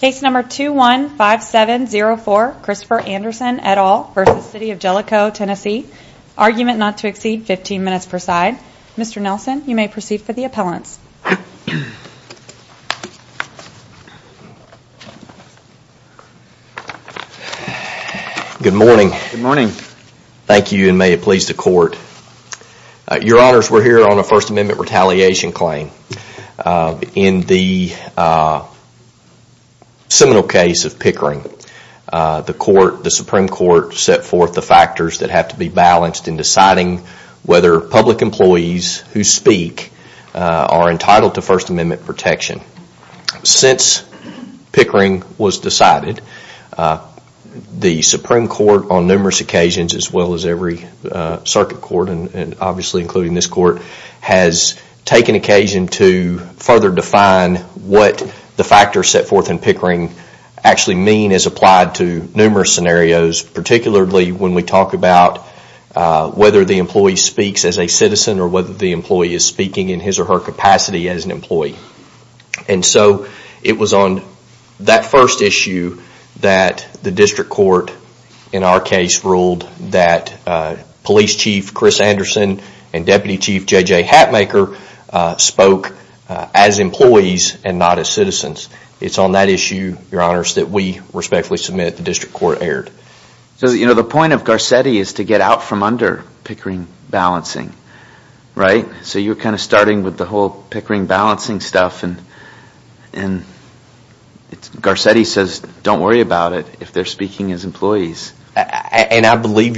Case number 215704 Christopher Anderson et al. v. City of Jellico, TN Argument not to exceed 15 minutes per side. Mr. Nelson, you may proceed for the appellants. Good morning. Thank you and may it please the court. Your honors, we are here on a First Amendment retaliation claim. In the seminal case of Pickering, the Supreme Court set forth the factors that have to be balanced in deciding whether public employees who speak are entitled to First Amendment protection. Since Pickering was decided, the Supreme Court on numerous occasions, as well as every circuit court and obviously including this court, has taken occasion to further define what the factors set forth in Pickering actually mean as applied to numerous scenarios, particularly when we talk about whether the employee speaks as a citizen or whether the employee is speaking in his or her capacity as an employee. It was on that first issue that the district court in our case ruled that Police Chief Chris Anderson and Deputy Chief J.J. Hatmaker spoke as employees and not as citizens. It is on that issue, your honors, that we respectfully submit that the district court erred. The point of Garcetti is to get out from under Pickering balancing, right? So you are kind of starting with the whole Pickering balancing stuff and Garcetti says don't worry about it if they are speaking as employees. And I believe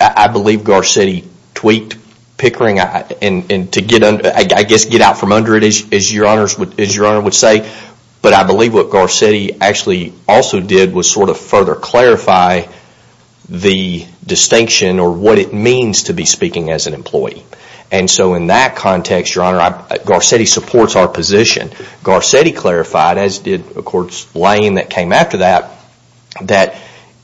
Garcetti tweaked Pickering to get out from under it, as your honors would say, but I believe what Garcetti actually also did was sort of further clarify the distinction or what it means to be speaking as an employee. And so in that context, your honor, Garcetti supports our position. Garcetti clarified, as did Lane that came after that, that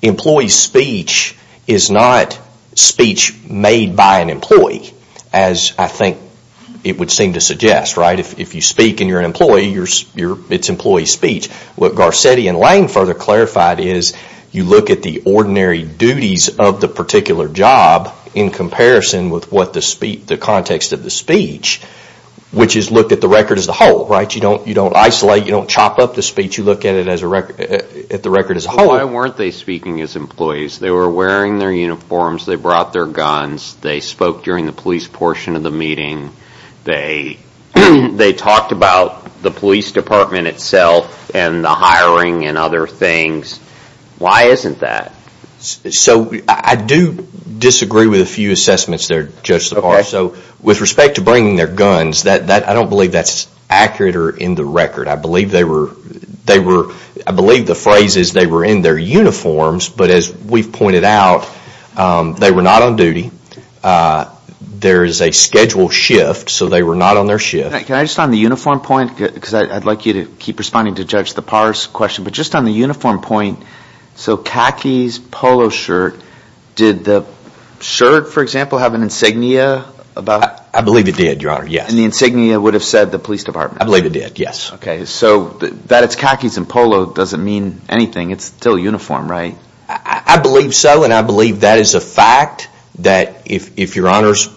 employee speech is not speech made by an employee, as I think it would seem to suggest, right? If you speak and you are an employee, it is employee speech. What Garcetti and Lane further clarified is you look at the ordinary duties of the particular job in comparison with what the context of the speech, which is look at the record as a whole, right? You don't isolate, you don't chop up the speech, you look at the record as a whole. Why weren't they speaking as employees? They were wearing their uniforms, they brought their guns, they spoke during the police portion of the meeting, they talked about the police department itself and the hiring and other things. Why isn't that? So I do disagree with a few assessments there, Judge LaParte. So with respect to bringing their guns, I don't believe that's accurate or in the record. I believe the phrase is they were in their uniforms, but as we've pointed out, they were not on duty. There is a schedule shift, so they were not on their shift. Can I just on the uniform point, because I'd like you to keep responding to Judge LaParte's question, but just on the uniform point, so khakis, polo shirt, did the shirt, for example, have an insignia about it? I believe it did, Your Honor, yes. And the insignia would have said the police department? I believe it did, yes. Okay, so that it's khakis and polo doesn't mean anything. It's still uniform, right? I believe so, and I believe that is a fact that if Your Honors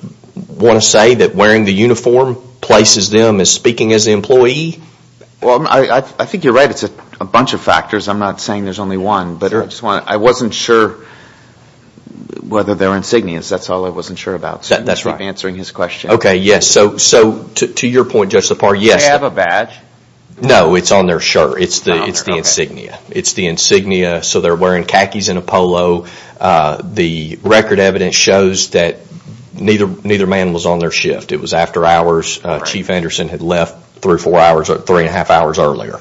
want to say that wearing the uniform places them as speaking as an employee? I think you're right. It's a bunch of factors. I'm not saying there's only one, but I wasn't sure whether their insignia, that's all I wasn't sure about. So I'll keep answering his question. Okay, yes. So to your point, Judge LaParte, yes. Do they have a badge? No, it's on their shirt. It's the insignia. It's the insignia, so they're wearing khakis and a polo. The record evidence shows that neither man was on their shift. It was after hours. Chief Anderson had left three and a half hours earlier.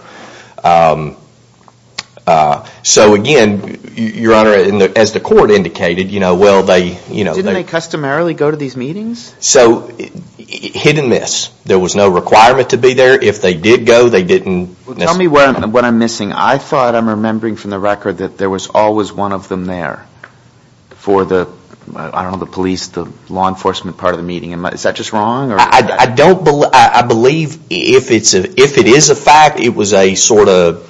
So again, Your Honor, as the court indicated, you know, well, they Didn't they customarily go to these meetings? So hit and miss. There was no requirement to be there. If they did go, they didn't Well, tell me what I'm missing. I thought I'm remembering from the record that there was always one of them there for the, I don't know, the police, the law enforcement part of the meeting. Is that just wrong? I believe if it is a fact, it was a sort of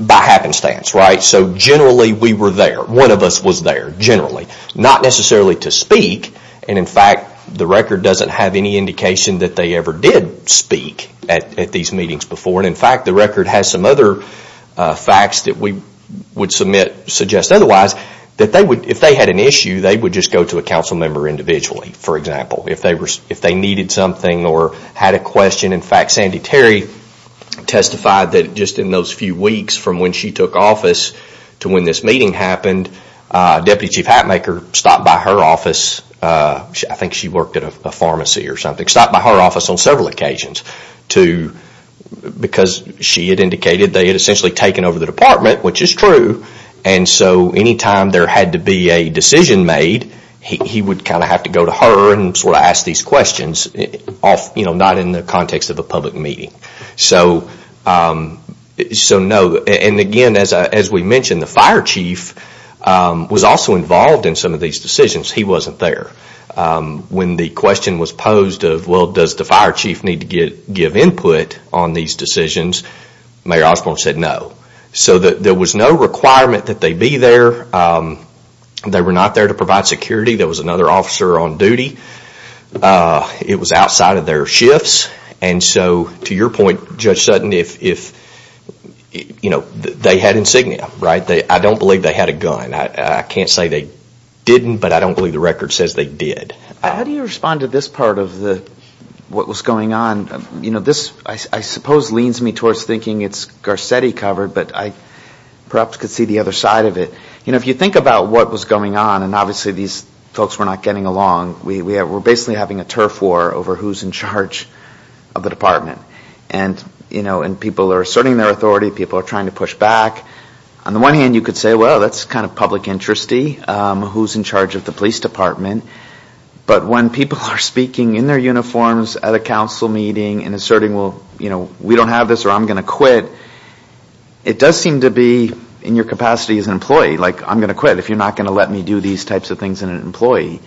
by happenstance, right? So generally we were there. One of us was there, generally. Not necessarily to speak, and in fact, the record doesn't have any indication that they ever did speak at these meetings before. And in some other facts that we would suggest otherwise, if they had an issue, they would just go to a council member individually, for example, if they needed something or had a question. In fact, Sandy Terry testified that just in those few weeks from when she took office to when this meeting happened, Deputy Chief Hatmaker stopped by her office. I think she worked at a pharmacy or something. Stopped by her office on several occasions because she had indicated they had essentially taken over the department, which is true. And so any time there had to be a decision made, he would kind of have to go to her and sort of ask these questions, not in the context of a public meeting. So, no. And again, as we mentioned, the fire chief was also involved in some of these decisions. He wasn't there. When the question was posed of, well, does the fire chief need to give input on these decisions, Mayor Osborne said no. So there was no requirement that they be there. They were not there to provide security. There was another officer on duty. It was outside of their shifts. And so to your point, Judge Sutton, if they had insignia, I don't believe they had a gun. I can't say they didn't, but I don't believe the record says they did. How do you respond to this part of what was going on? This, I suppose, leans me towards thinking it's Garcetti covered, but I perhaps could see the other side of it. If you think about what was going on, and obviously these folks were not getting along, we're basically having a turf war over who's in charge of the department. And people are asserting their authority. People are trying to push back. On the one hand, you could say, well, that's kind of public interest-y, who's in charge of the police department. But when people are speaking in their uniforms at a council meeting and asserting, well, we don't have this or I'm going to quit, it does seem to be in your capacity as an employee, like, I'm going to quit if you're not going to let me do these types of things as an employee.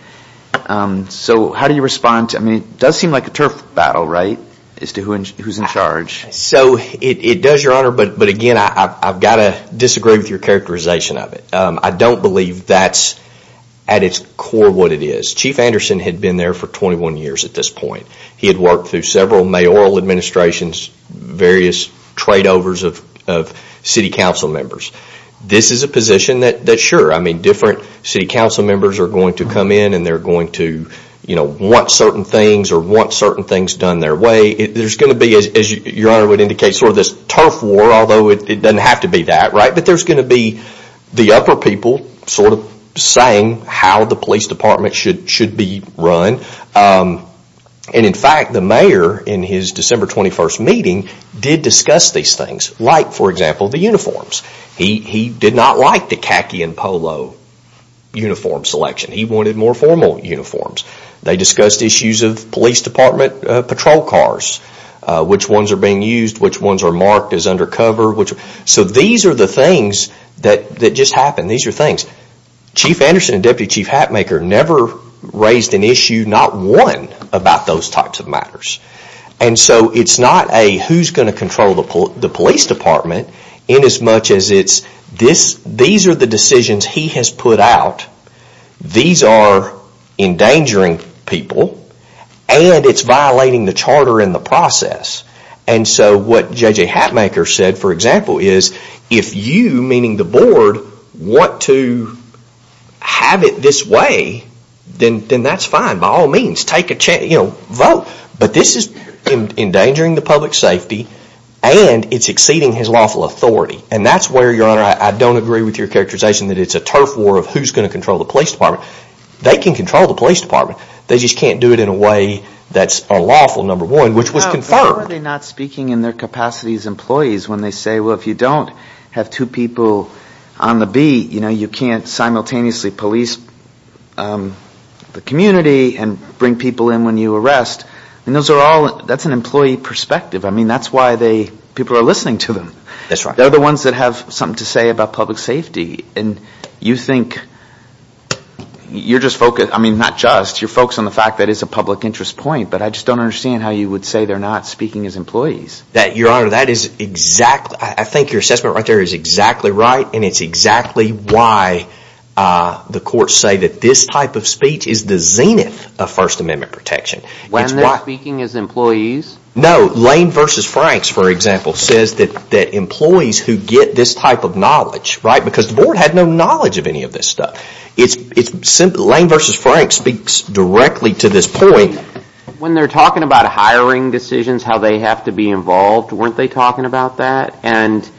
So how do you respond? I mean, it does seem like a turf battle, right, as to who's in charge. So it does, Your Honor, but again, I've got to disagree with your characterization of it. I don't believe that's at its core what it is. Chief Anderson had been there for 21 years at this point. He had worked through several mayoral administrations, various trade-overs of city council members. This is a position that sure, I mean, different city council members are going to come in and they're going to want certain things or want certain things done their way. There's going to be, as Your Honor said, there's going to be the upper people sort of saying how the police department should be run. In fact, the mayor in his December 21st meeting did discuss these things, like for example, the uniforms. He did not like the khaki and polo uniform selection. He wanted more formal uniforms. They discussed issues of police department patrol cars, which ones are being used, which ones are marked as undercover. So these are the things that just happen. These are things. Chief Anderson and Deputy Chief Hatmaker never raised an issue, not one, about those types of matters. And so it's not a who's going to control the police department in as much as it's these are the decisions he has put out. These are endangering people and it's violating the charter and the process. And so what J.J. Hatmaker said, for example, is if you, meaning the board, want to have it this way, then that's fine by all means. Take a chance, vote. But this is endangering the public safety and it's exceeding his lawful authority. And that's where, Your Honor, I don't agree with your characterization that it's a turf war of who's going to control the police department. They can control the police department. They just can't do it in a way that's unlawful, number one, which was confirmed. Why are they not speaking in their capacity as employees when they say, well, if you don't have two people on the beat, you can't simultaneously police the community and bring people in when you arrest. That's an employee perspective. I mean, that's why people are listening to them. They're the ones that have something to say about public safety. And you think you're just focused, I mean, not just, you're focused on the fact that it's a public interest point. But I just don't understand how you would say they're not speaking as employees. That Your Honor, that is exactly, I think your assessment right there is exactly right and it's exactly why the courts say that this type of speech is the zenith of First Amendment protection. When they're speaking as employees? No, Lane v. Franks, for example, says that employees who get this type of knowledge, because the board had no knowledge of any of this stuff. Lane v. Franks speaks directly to this point. When they're talking about hiring decisions, how they have to be involved, weren't they talking about that? And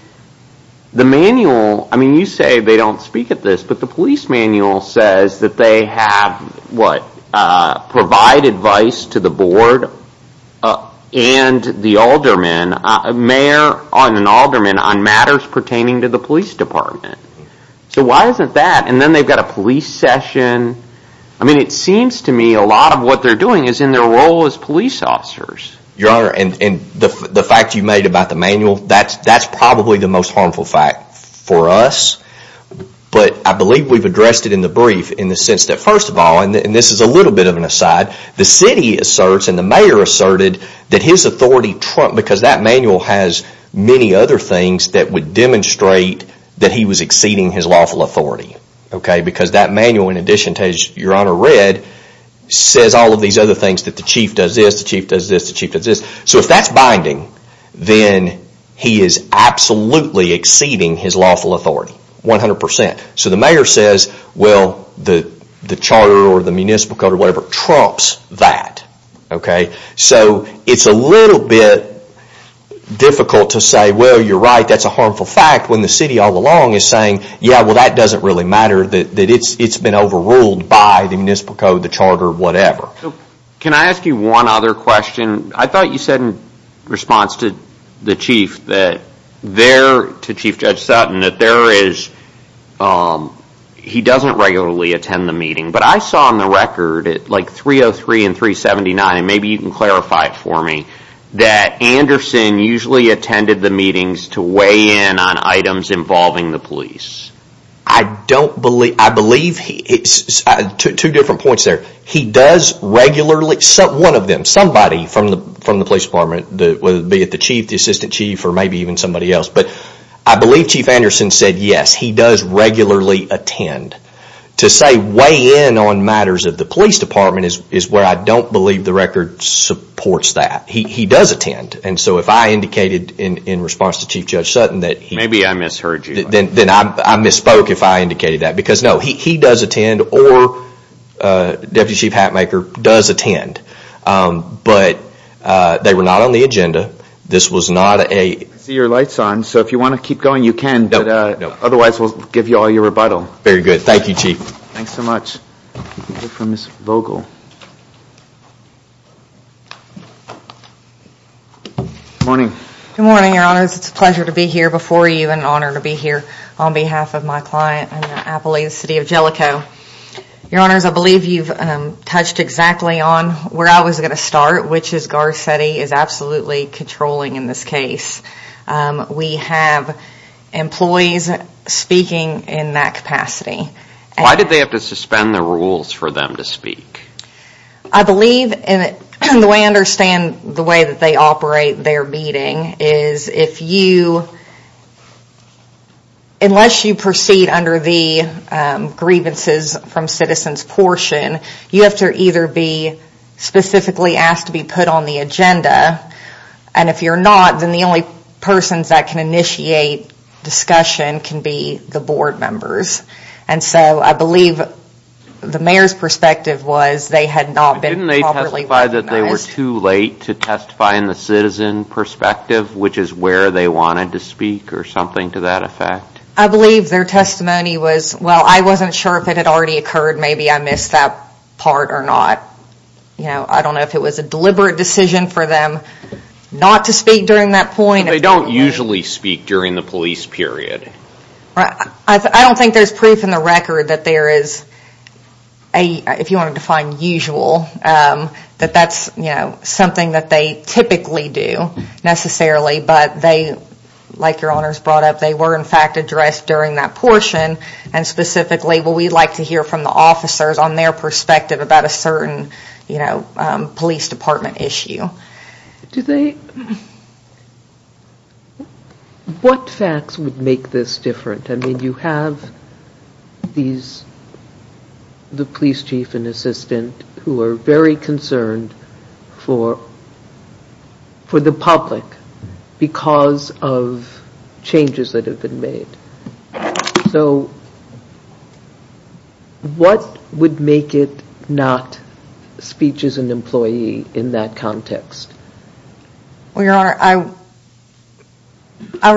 the manual, I mean, you say they don't speak at this, but the police manual says that they have, what, provide advice to the board and the alderman, a mayor and an alderman, on matters pertaining to the police department. So why isn't that? And then they've got a police session. I mean, it seems to me a lot of what they're doing is in their role as police officers. Your Honor, and the fact you made about the manual, that's probably the most harmful fact for us. But I believe we've addressed it in the brief in the sense that, first of all, and this is a little bit of an aside, the city asserts and the mayor asserted that his many other things that would demonstrate that he was exceeding his lawful authority. Because that manual, in addition to what Your Honor read, says all of these other things that the chief does this, the chief does this, the chief does this. So if that's binding, then he is absolutely exceeding his lawful authority. One hundred percent. So the mayor says, well, the charter or the municipal code or whatever trumps that. So it's a little bit difficult to say, well, you're right, that's a harmful fact, when the city all along is saying, yeah, well, that doesn't really matter, that it's been overruled by the municipal code, the charter, whatever. Can I ask you one other question? I thought you said in response to the chief that there, to Chief Judge Sutton, that there is, he doesn't regularly attend the meeting. But I saw on the record, like 303 and 379, and maybe you can clarify it for me, that Anderson usually attended the meetings to weigh in on items involving the police. I don't believe, I believe, two different points there. He does regularly, one of them, somebody from the police department, whether it be the chief, the assistant chief, or maybe even somebody else, but I believe Chief Anderson said yes, he does regularly attend to say weigh in on matters of the police department is where I don't believe the record supports that. He does attend. And so if I indicated in response to Chief Judge Sutton that he Maybe I misheard you. Then I misspoke if I indicated that. Because no, he does attend or Deputy Chief Hatmaker does attend. But they were not on the agenda. This was not a I see your light's on, so if you want to keep going, you can. Otherwise, we'll give you all your rebuttal. Very good. Thank you, Chief. Thanks so much. We'll hear from Ms. Vogel. Good morning. Good morning, Your Honors. It's a pleasure to be here before you and an honor to be here on behalf of my client in the Appalachian City of Jellicoe. Your Honors, I believe you've touched exactly on where I was going to start, which is Garcetti is absolutely controlling in this case. We have employees speaking in that capacity. Why did they have to suspend the rules for them to speak? I believe and the way I understand the way that they operate their meeting is if you unless you proceed under the grievances from citizens portion, you have to either be specifically asked to be put on the agenda. And if you're not, then the only persons that can initiate discussion can be the board members. And so I believe the mayor's perspective was they had not been properly recognized. Didn't they testify that they were too late to testify in the citizen perspective, which is where they wanted to speak or something to that effect? I believe their testimony was, well, I wasn't sure if it had already occurred. Maybe I missed that part or not. I don't know if it was a deliberate decision for them not to speak during that point. They don't usually speak during the police period. I don't think there's proof in the record that there is, if you want to define usual, that that's something that they typically do necessarily. But they, like your honors brought up, they were in fact addressed during that portion. And specifically, well, we'd like to hear from the officers on their perspective about a certain police department issue. What facts would make this different? I mean, you have the police chief and assistant who are very concerned for the public because of changes that have been made. So what would make it not speech as an employee in that context? Well, your honor, I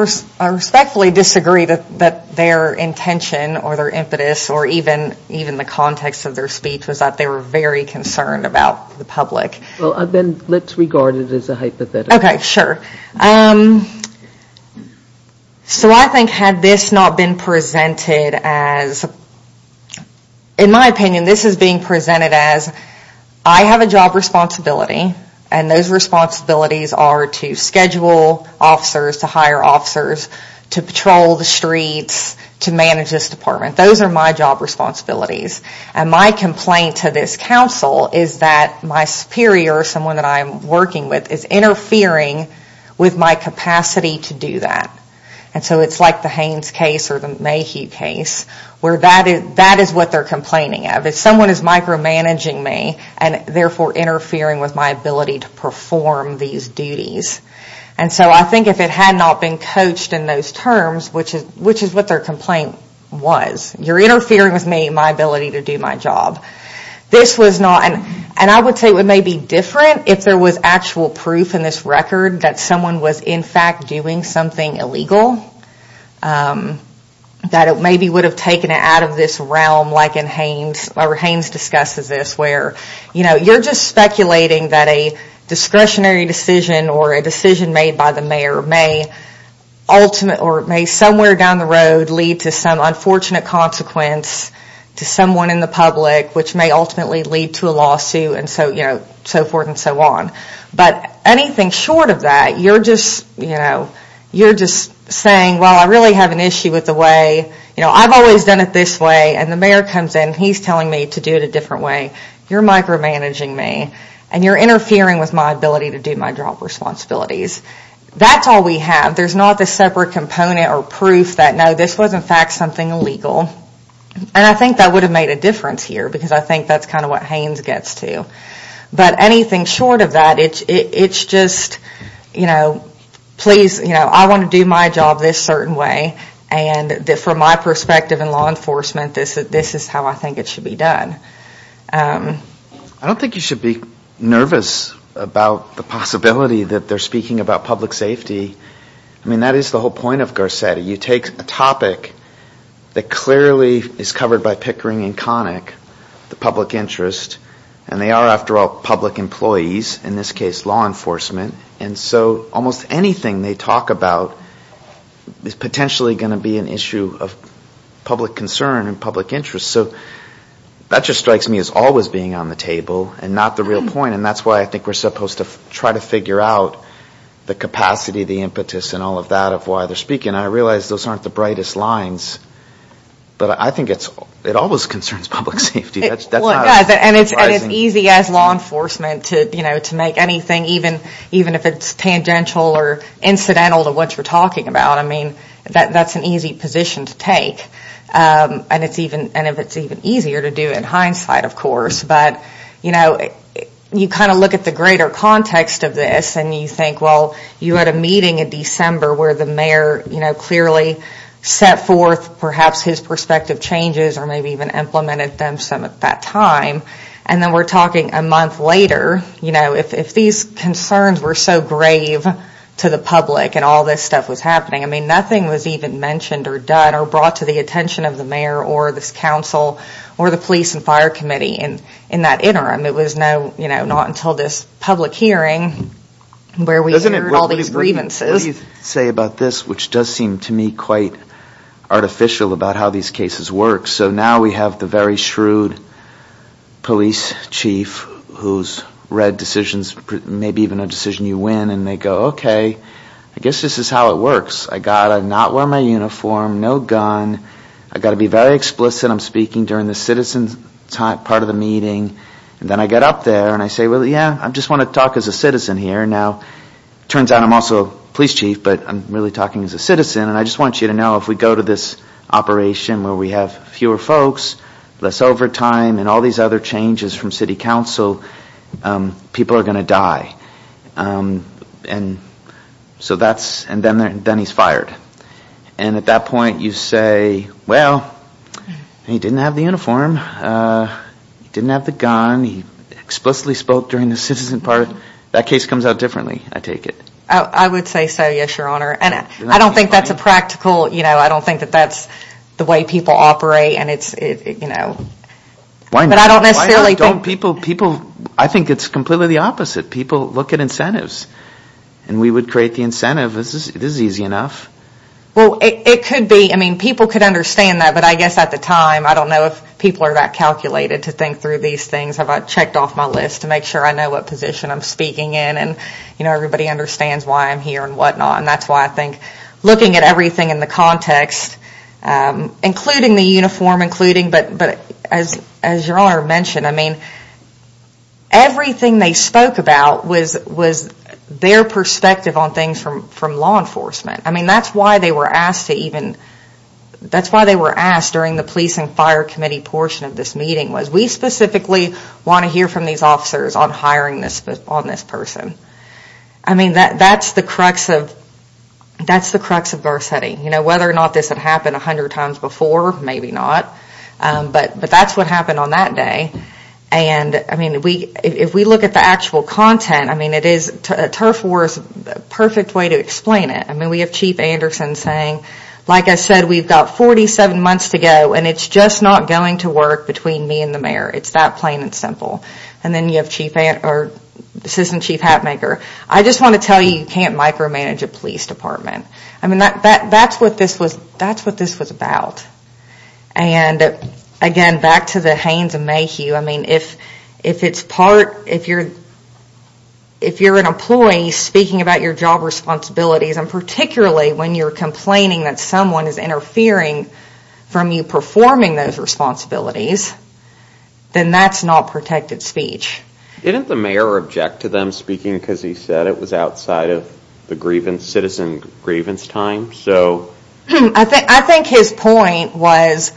respectfully disagree that their intention or their impetus or even the context of their speech was that they were very concerned about the public. Well, then let's regard it as a hypothetical. Okay, sure. So I think had this not been presented as, in my opinion, this is being presented as I have a job responsibility and those responsibilities are to schedule officers, to hire officers, to patrol the streets, to manage this department. Those are my job responsibilities. And my superior, someone that I'm working with, is interfering with my capacity to do that. And so it's like the Haynes case or the Mayhew case where that is what they're complaining of. If someone is micromanaging me and therefore interfering with my ability to perform these duties. And so I think if it had not been coached in those terms, which is what their complaint was, you're interfering with me, my ability to do my job. This was not, and I would say it may be different if there was actual proof in this record that someone was in fact doing something illegal. That it maybe would have taken it out of this realm like in Haynes or Haynes discusses this where, you know, you're just speculating that a discretionary decision or a decision made by the mayor may ultimate or may somewhere down the road lead to some unfortunate consequence to someone in the public which may ultimately lead to a lawsuit and so forth and so on. But anything short of that, you're just, you know, you're just saying well I really have an issue with the way, you know, I've always done it this way and the mayor comes in and he's telling me to do it a different way. You're micromanaging me and you're interfering with my ability to do my job responsibilities. That's all we have. There's not a separate component or proof that no, this was in fact something illegal. And I think that would have made a difference here because I think that's kind of what Haynes gets to. But anything short of that, it's just, you know, please, you know, I want to do my job this certain way and from my perspective in law enforcement this is how I think it should be done. I don't think you should be nervous about the possibility that they're speaking about public safety. I mean that is the whole point of Garcetti. You take a topic that clearly is covered by Pickering and Connick, the public interest, and they are after all public employees, in this case law enforcement, and so almost anything they talk about is potentially going to be an issue of public concern and public interest. So that just strikes me as always being on the table and not the real point and that's why I think we're supposed to try to figure out the capacity, the impetus and all of that of why they're speaking. I realize those aren't the brightest lines, but I think it always concerns public safety. And it's easy as law enforcement to make anything, even if it's tangential or incidental to what you're talking about, I mean, that's an easy position to take. And if it's even easier to do it in hindsight, of course. But, you know, you kind of look at the greater context of this and you think, well, you had a meeting in December where the mayor clearly set forth perhaps his perspective changes or maybe even implemented them some at that time. And then we're talking a month later, you know, if these concerns were so grave to the public and all this stuff was happening, I mean, nothing was even mentioned or done or brought to the attention of the mayor or this council or the police and fire committee in that interim. It was not until this public hearing where we heard all these grievances. What do you say about this, which does seem to me quite artificial about how these cases work. So now we have the very shrewd police chief who's read decisions, maybe even a decision you win and they go, okay, I guess this is how it works. I got to not wear my uniform, no gun. I've got to be very explicit. I'm speaking during the citizens part of the meeting and then I get up there and I say, well, yeah, I just want to talk as a citizen here. Now turns out I'm also police chief, but I'm really talking as a citizen. And I just want you to know if we go to this operation where we have fewer folks, less overtime and all these other changes from city council, people are going to die. And so that's, and then he's fired. And at that point you say, well, he didn't have the uniform, didn't have the gun, he explicitly spoke during the citizen part. That case comes out differently, I take it. I would say so, yes, your honor. And I don't think that's a practical, you know, I don't think that that's the way people operate and it's, you know, but I don't necessarily think... Why don't people, people, I think it's completely the opposite. People look at incentives and we would create the incentive. This is easy enough. Well, it could be. I mean, people could understand that, but I guess at the time, I don't know if people are that calculated to think through these things. Have I checked off my list to make sure I know what position I'm speaking in and, you know, everybody understands why I'm here and whatnot. And that's why I think looking at everything in the context, including the uniform, including, but as your honor mentioned, I mean, everything they spoke about was their perspective on things from law enforcement. I mean, that's why they were asked to even, that's why they were asked during the police and fire committee portion of this meeting was we specifically want to hear from these officers on hiring this person. I mean, that's the crux of, that's the crux of Garcetti. You know, whether or not this had happened a hundred times before, maybe not, but that's what happened on that day. And I mean, if we look at the actual content, I mean, it is, TURF War is a perfect way to explain it. I mean, we have Chief Anderson saying, like I said, we've got 47 months to go and it's just not going to work between me and the mayor. It's that plain and simple. And then you have Chief, or Assistant Chief Hatmaker. I just want to tell you, you can't micromanage a police department. I mean, that, that, that's what this was, that's what this was about. And again, back to the Haynes and Mayhew, I mean, if, if it's part, if you're, if you're an employee speaking about your job responsibilities, and particularly when you're complaining that someone is interfering from you performing those responsibilities, then that's not protected speech. Didn't the mayor object to them speaking because he said it was outside of the grievance, citizen grievance time? So... I think, I think his point was,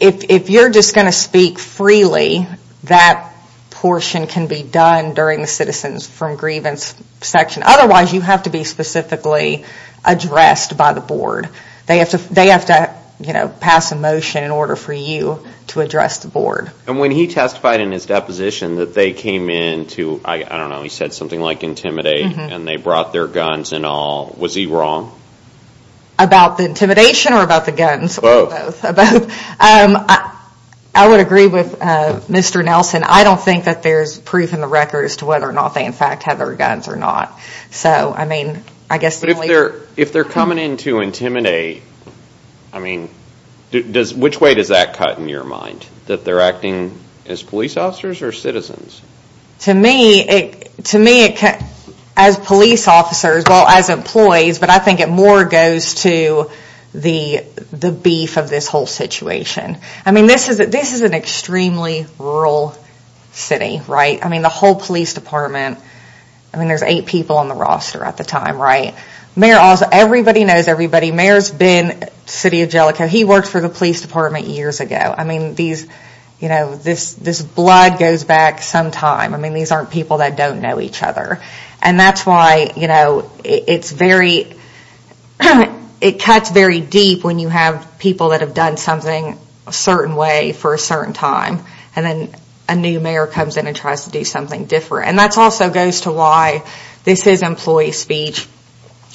if, if you're just going to speak freely, that portion can be done during the citizens from grievance section. Otherwise, you have to be specifically addressed by the board. They have to, they have to, you know, pass a motion in order for you to address the board. And when he testified in his deposition that they came in to, I don't know, he said something like intimidate, and they brought their guns and all, was he wrong? About the intimidation or about the guns? Both. Both. I would agree with Mr. Nelson. I don't think that there's proof in the record as to whether or not they, in fact, have their guns or not. So, I mean, I guess... If they're coming in to intimidate, I mean, does, which way does that cut in your mind? That they're acting as police officers or citizens? To me, to me it, as police officers, well, as employees, but I think it more goes to the beef of this whole situation. I mean, this is an extremely rural city, right? I mean, the whole police department, I mean, there's eight people on the roster at the time, right? Mayor also, everybody knows everybody. Mayor's been, City of Jellicoe, he worked for the police department years ago. I mean, these, you know, this blood goes back some time. I mean, these aren't people that don't know each other. And that's why, you know, it's very, it cuts very deep when you have people that have done something a certain way for a certain time. And then a new mayor comes in and tries to do something different. And that also goes to why this is employee speech.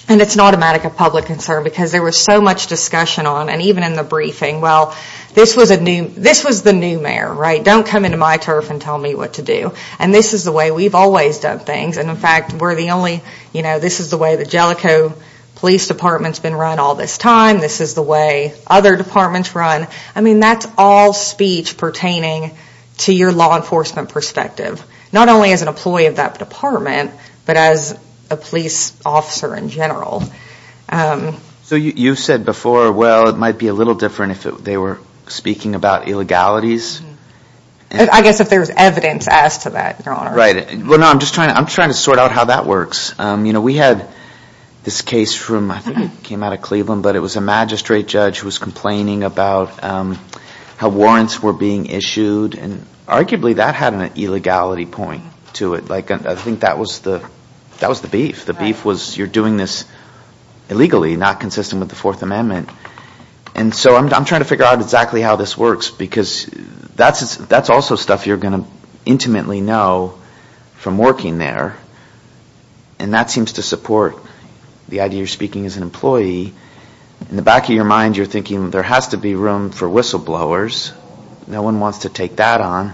And it's not a matter of public concern because there was so much discussion on, and even in the briefing, well, this was a new, this was the new mayor, right? Don't come into my turf and tell me what to do. And this is the way we've always done things. And in fact, we're the only, you know, this is the way the Jellicoe Police Department's been run all this time. This is the way other departments run. I mean, that's all speech pertaining to your law enforcement perspective. Not only as an employee of that department, but as a police officer in general. So you said before, well, it might be a little different if they were speaking about illegalities? I guess if there's evidence as to that, your honor. Right. Well, no, I'm just trying to, I'm trying to sort out how that works. You know, we had this case from, I think it came out of Cleveland, but it was a magistrate judge who was complaining about how warrants were being issued. And arguably that had an illegality point to it. Like, I think that was the, that was the beef. The beef was you're doing this illegally, not consistent with the fourth amendment. And so I'm trying to figure out exactly how this works, because that's, that's also stuff you're going to intimately know from working there. And that seems to support the idea you're speaking as an employee. In the back of your mind, you're thinking there has to be room for whistleblowers. No one wants to take that on.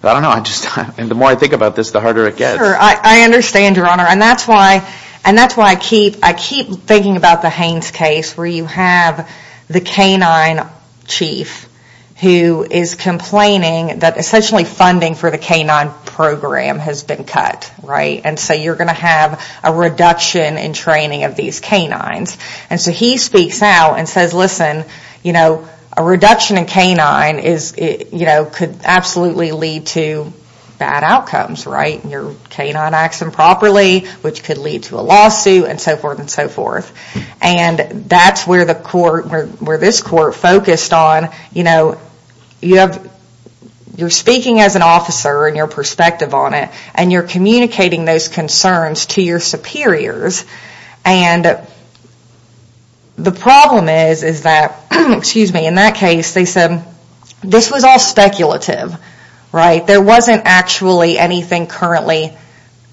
But I don't know. I just, and the more I think about this, the harder it gets. I understand your honor. And that's why, and that's why I keep, I keep thinking about the K-9 chief who is complaining that essentially funding for the K-9 program has been cut, right? And so you're going to have a reduction in training of these K-9s. And so he speaks out and says, listen, you know, a reduction in K-9 is, you know, could absolutely lead to bad outcomes, right? Your K-9 acts improperly, which could lead to a lawsuit and so forth and so forth. And that's where the court, where this court focused on, you know, you have, you're speaking as an officer and your perspective on it and you're communicating those concerns to your superiors. And the problem is, is that, excuse me, in that case they said this was all speculative, right? There wasn't actually anything currently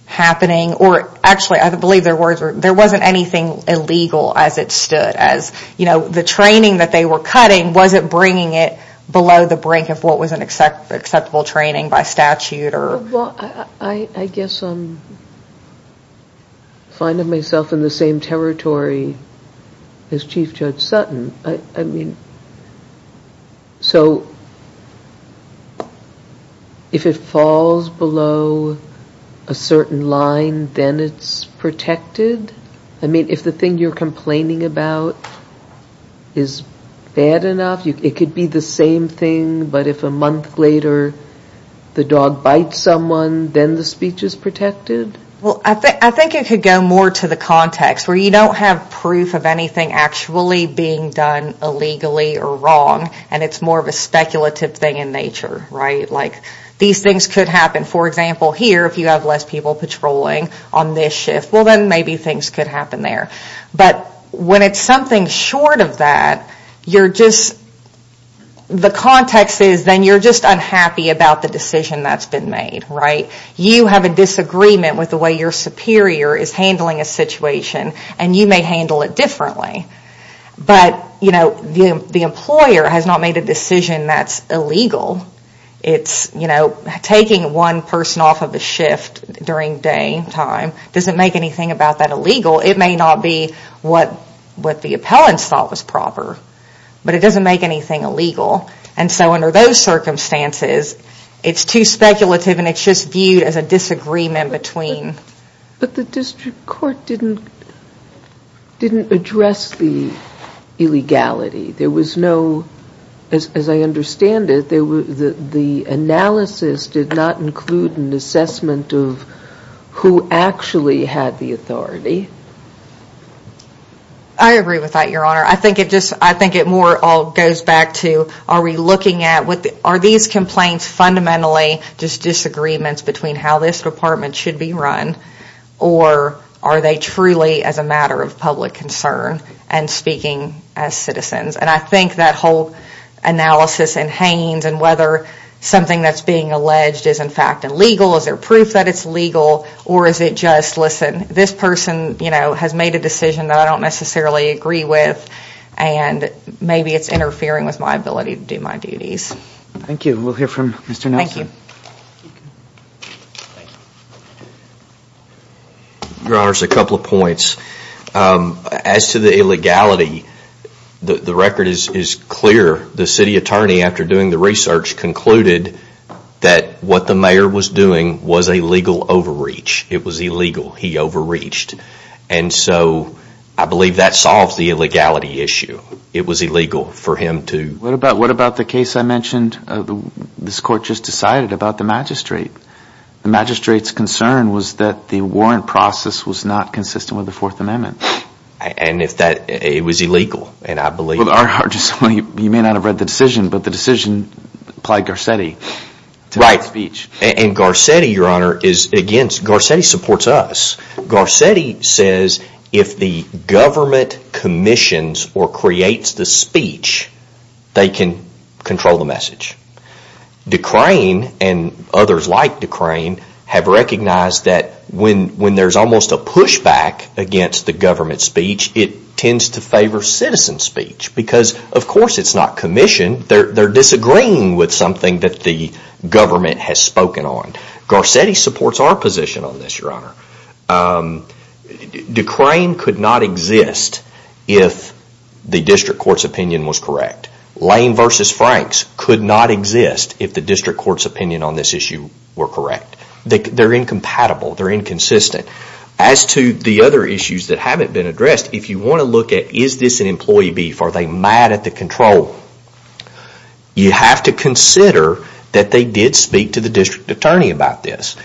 happening or actually, I believe their words were, there wasn't anything illegal as it stood as, you know, the training that they were cutting wasn't bringing it below the brink of what was an acceptable training by statute or... Well, I guess I'm finding myself in the same territory as Chief Judge Sutton. I mean, so if it falls below a certain line, then it's protected? I mean, if the thing you're complaining about is bad enough, it could be the same thing, but if a month later the dog bites someone, then the speech is protected? Well, I think it could go more to the context where you don't have proof of anything actually being done illegally or wrong and it's more of a speculative thing in nature, right? Like these things could happen. For example, here if you have less people patrolling on this shift, well then maybe things could happen there. But when it's something short of that, you're just, the context is then you're just unhappy about the decision that's been made, right? You have a disagreement with the way your superior is handling a situation and you may handle it differently. But, you know, the employer has not made a decision that's illegal. It's, you know, taking one person off of a shift during daytime doesn't make anything about that illegal. It may not be what the appellants thought was proper, but it doesn't make anything illegal. And so under those circumstances, it's too speculative and it's just viewed as a disagreement between... It didn't address the illegality. There was no, as I understand it, the analysis did not include an assessment of who actually had the authority. I agree with that, Your Honor. I think it just, I think it more all goes back to are we looking at, are these complaints fundamentally just disagreements between how this department should be run or are they truly as a matter of public concern and speaking as citizens? And I think that whole analysis and hangings and whether something that's being alleged is in fact illegal, is there proof that it's legal or is it just, listen, this person, you know, has made a decision that I don't necessarily agree with and maybe it's interfering with my ability to do my duties. Thank you. We'll hear from Mr. Nelson. Your Honor, a couple of points. As to the illegality, the record is clear. The city attorney, after doing the research, concluded that what the mayor was doing was a legal overreach. It was illegal. He overreached. And so I believe that solves the illegality issue. It was illegal for him to... What about the case I mentioned? This court just decided about the magistrate. The magistrate's concern was that the warrant process was not consistent with the Fourth Amendment. And if that, it was illegal, and I believe... Well, you may not have read the decision, but the decision applied Garcetti to the speech. Right. And Garcetti, Your Honor, is against, Garcetti supports us. Garcetti says if the district court's opinion was correct, they can control the message. Decrane and others like Decrane have recognized that when there's almost a pushback against the government speech, it tends to favor citizen speech because, of course, it's not commissioned. They're disagreeing with something that the government has spoken on. Garcetti supports our position on this, Your Honor. Decrane could not exist if the district court's opinion was correct. Lane v. Franks could not exist if the district court's opinion on this issue were correct. They're incompatible. They're inconsistent. As to the other issues that haven't been addressed, if you want to look at, is this an employee beef? Are they mad at the control? You have to consider that they did speak to the district attorney about this,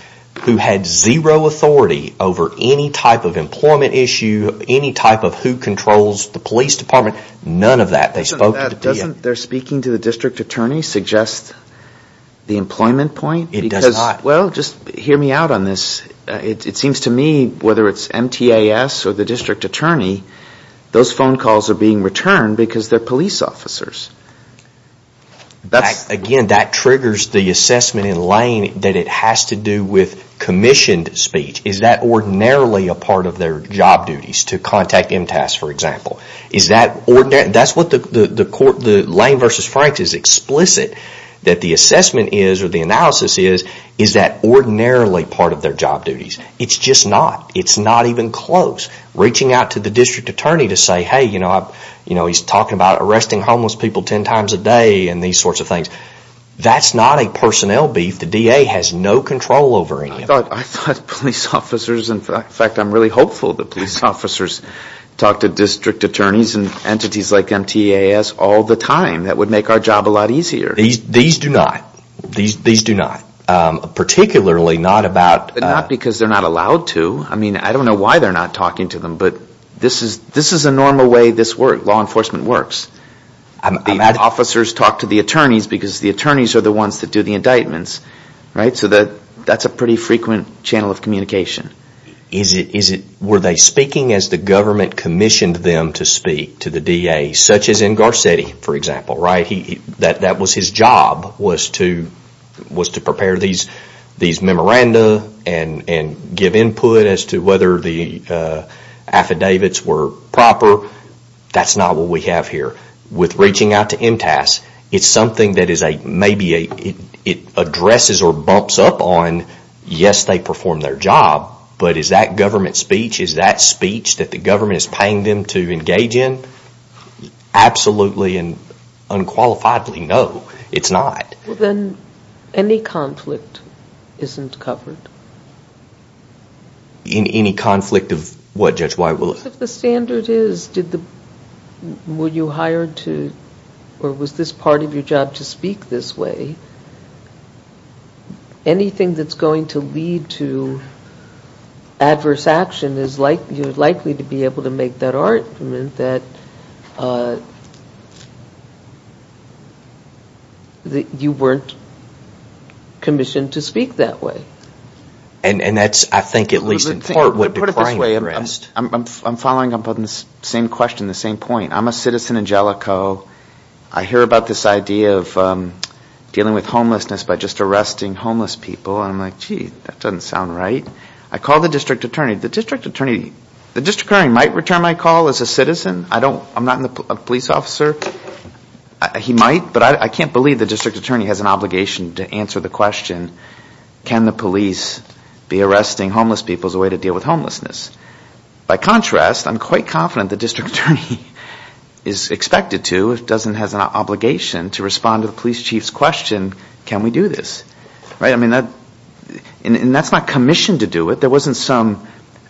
who had zero authority over any type of employment issue, any type of who controls the police department. None of that. Doesn't their speaking to the district attorney suggest the employment point? It does not. Well, just hear me out on this. It seems to me, whether it's MTAS or the district attorney, those phone calls are being returned because they're police officers. Again, that triggers the assessment in Lane that it has to do with commissioned speech. Is that ordinarily a part of their job duties, to contact MTAS, for example? That's what the Lane v. Franks is explicit that the assessment is, or the analysis is, is that ordinarily part of their job duties. It's just not. It's not even close. Reaching out to the district attorney to say, hey, he's talking about arresting homeless people ten times a day and these sorts of things. That's not a personnel beef. The DA has no control over it. I thought police officers, in fact, I'm really hopeful that police officers talk to district attorneys and entities like MTAS all the time. That would make our job a lot easier. These do not. These do not. Particularly not about... Not because they're not allowed to. I don't know why they're not talking to them, but this is a normal way this law enforcement works. The officers talk to the attorneys because the attorneys are the ones that do the indictments. That's a pretty frequent channel of communication. Were they speaking as the government commissioned them to speak to the DA, such as in Garcetti, for example? That was his job, was to prepare these memoranda and give input as to whether the affidavits were proper. That's not what we have here. With reaching out to MTAS, it's something that is a... Maybe it addresses or bumps up on, yes, they perform their job, but is that government speech? Is that speech that the government is paying them to engage in? Absolutely and unqualifiedly, no, it's not. Well, then, any conflict isn't covered? Any conflict of what, Judge White? If the standard is, were you hired to, or was this part of your job to speak this way, anything that's going to lead to adverse action is likely to be able to make that argument that you weren't commissioned to speak that way. And that's, I think, at least in part, what declined the arrest. I'm following up on the same question, the same point. I'm a citizen in Jellicoe. I hear about this idea of dealing with homelessness by just arresting homeless people. I'm like, gee, that doesn't sound right. I called the district attorney. The district attorney, the district attorney might return my call as a citizen. I'm not a police officer. He might, but I can't believe the district attorney has an obligation to answer the question, can the police be arresting homeless people as a way to deal with homelessness? By contrast, I'm quite confident the district attorney is expected to, doesn't have an obligation to respond to the police chief's question, can we do this? And that's not commissioned to do it. There wasn't some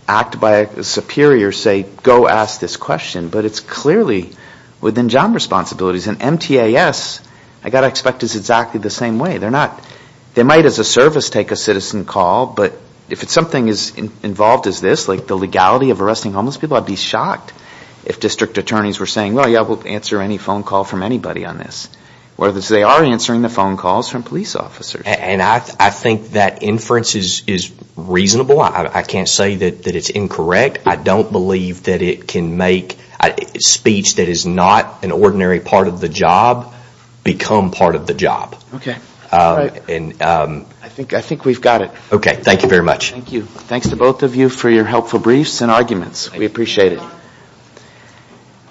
act by a superior, say, go ask this question, but it's clearly within job responsibilities. And MTAS, I got to expect, is exactly the same way. They might as a service take a citizen call, but if it's something as involved as this, like the legality of arresting homeless people, I'd be shocked if district attorneys were saying, well, yeah, we'll answer any phone call from anybody on this. Whereas they are answering the phone calls from police officers. And I think that inference is reasonable. I can't say that it's incorrect. I don't believe that it can make speech that is not an ordinary part of the job become part of the job. Okay. I think we've got it. Okay. Thank you very much. Thank you. Thanks to both of you for your helpful briefs and arguments. We appreciate it.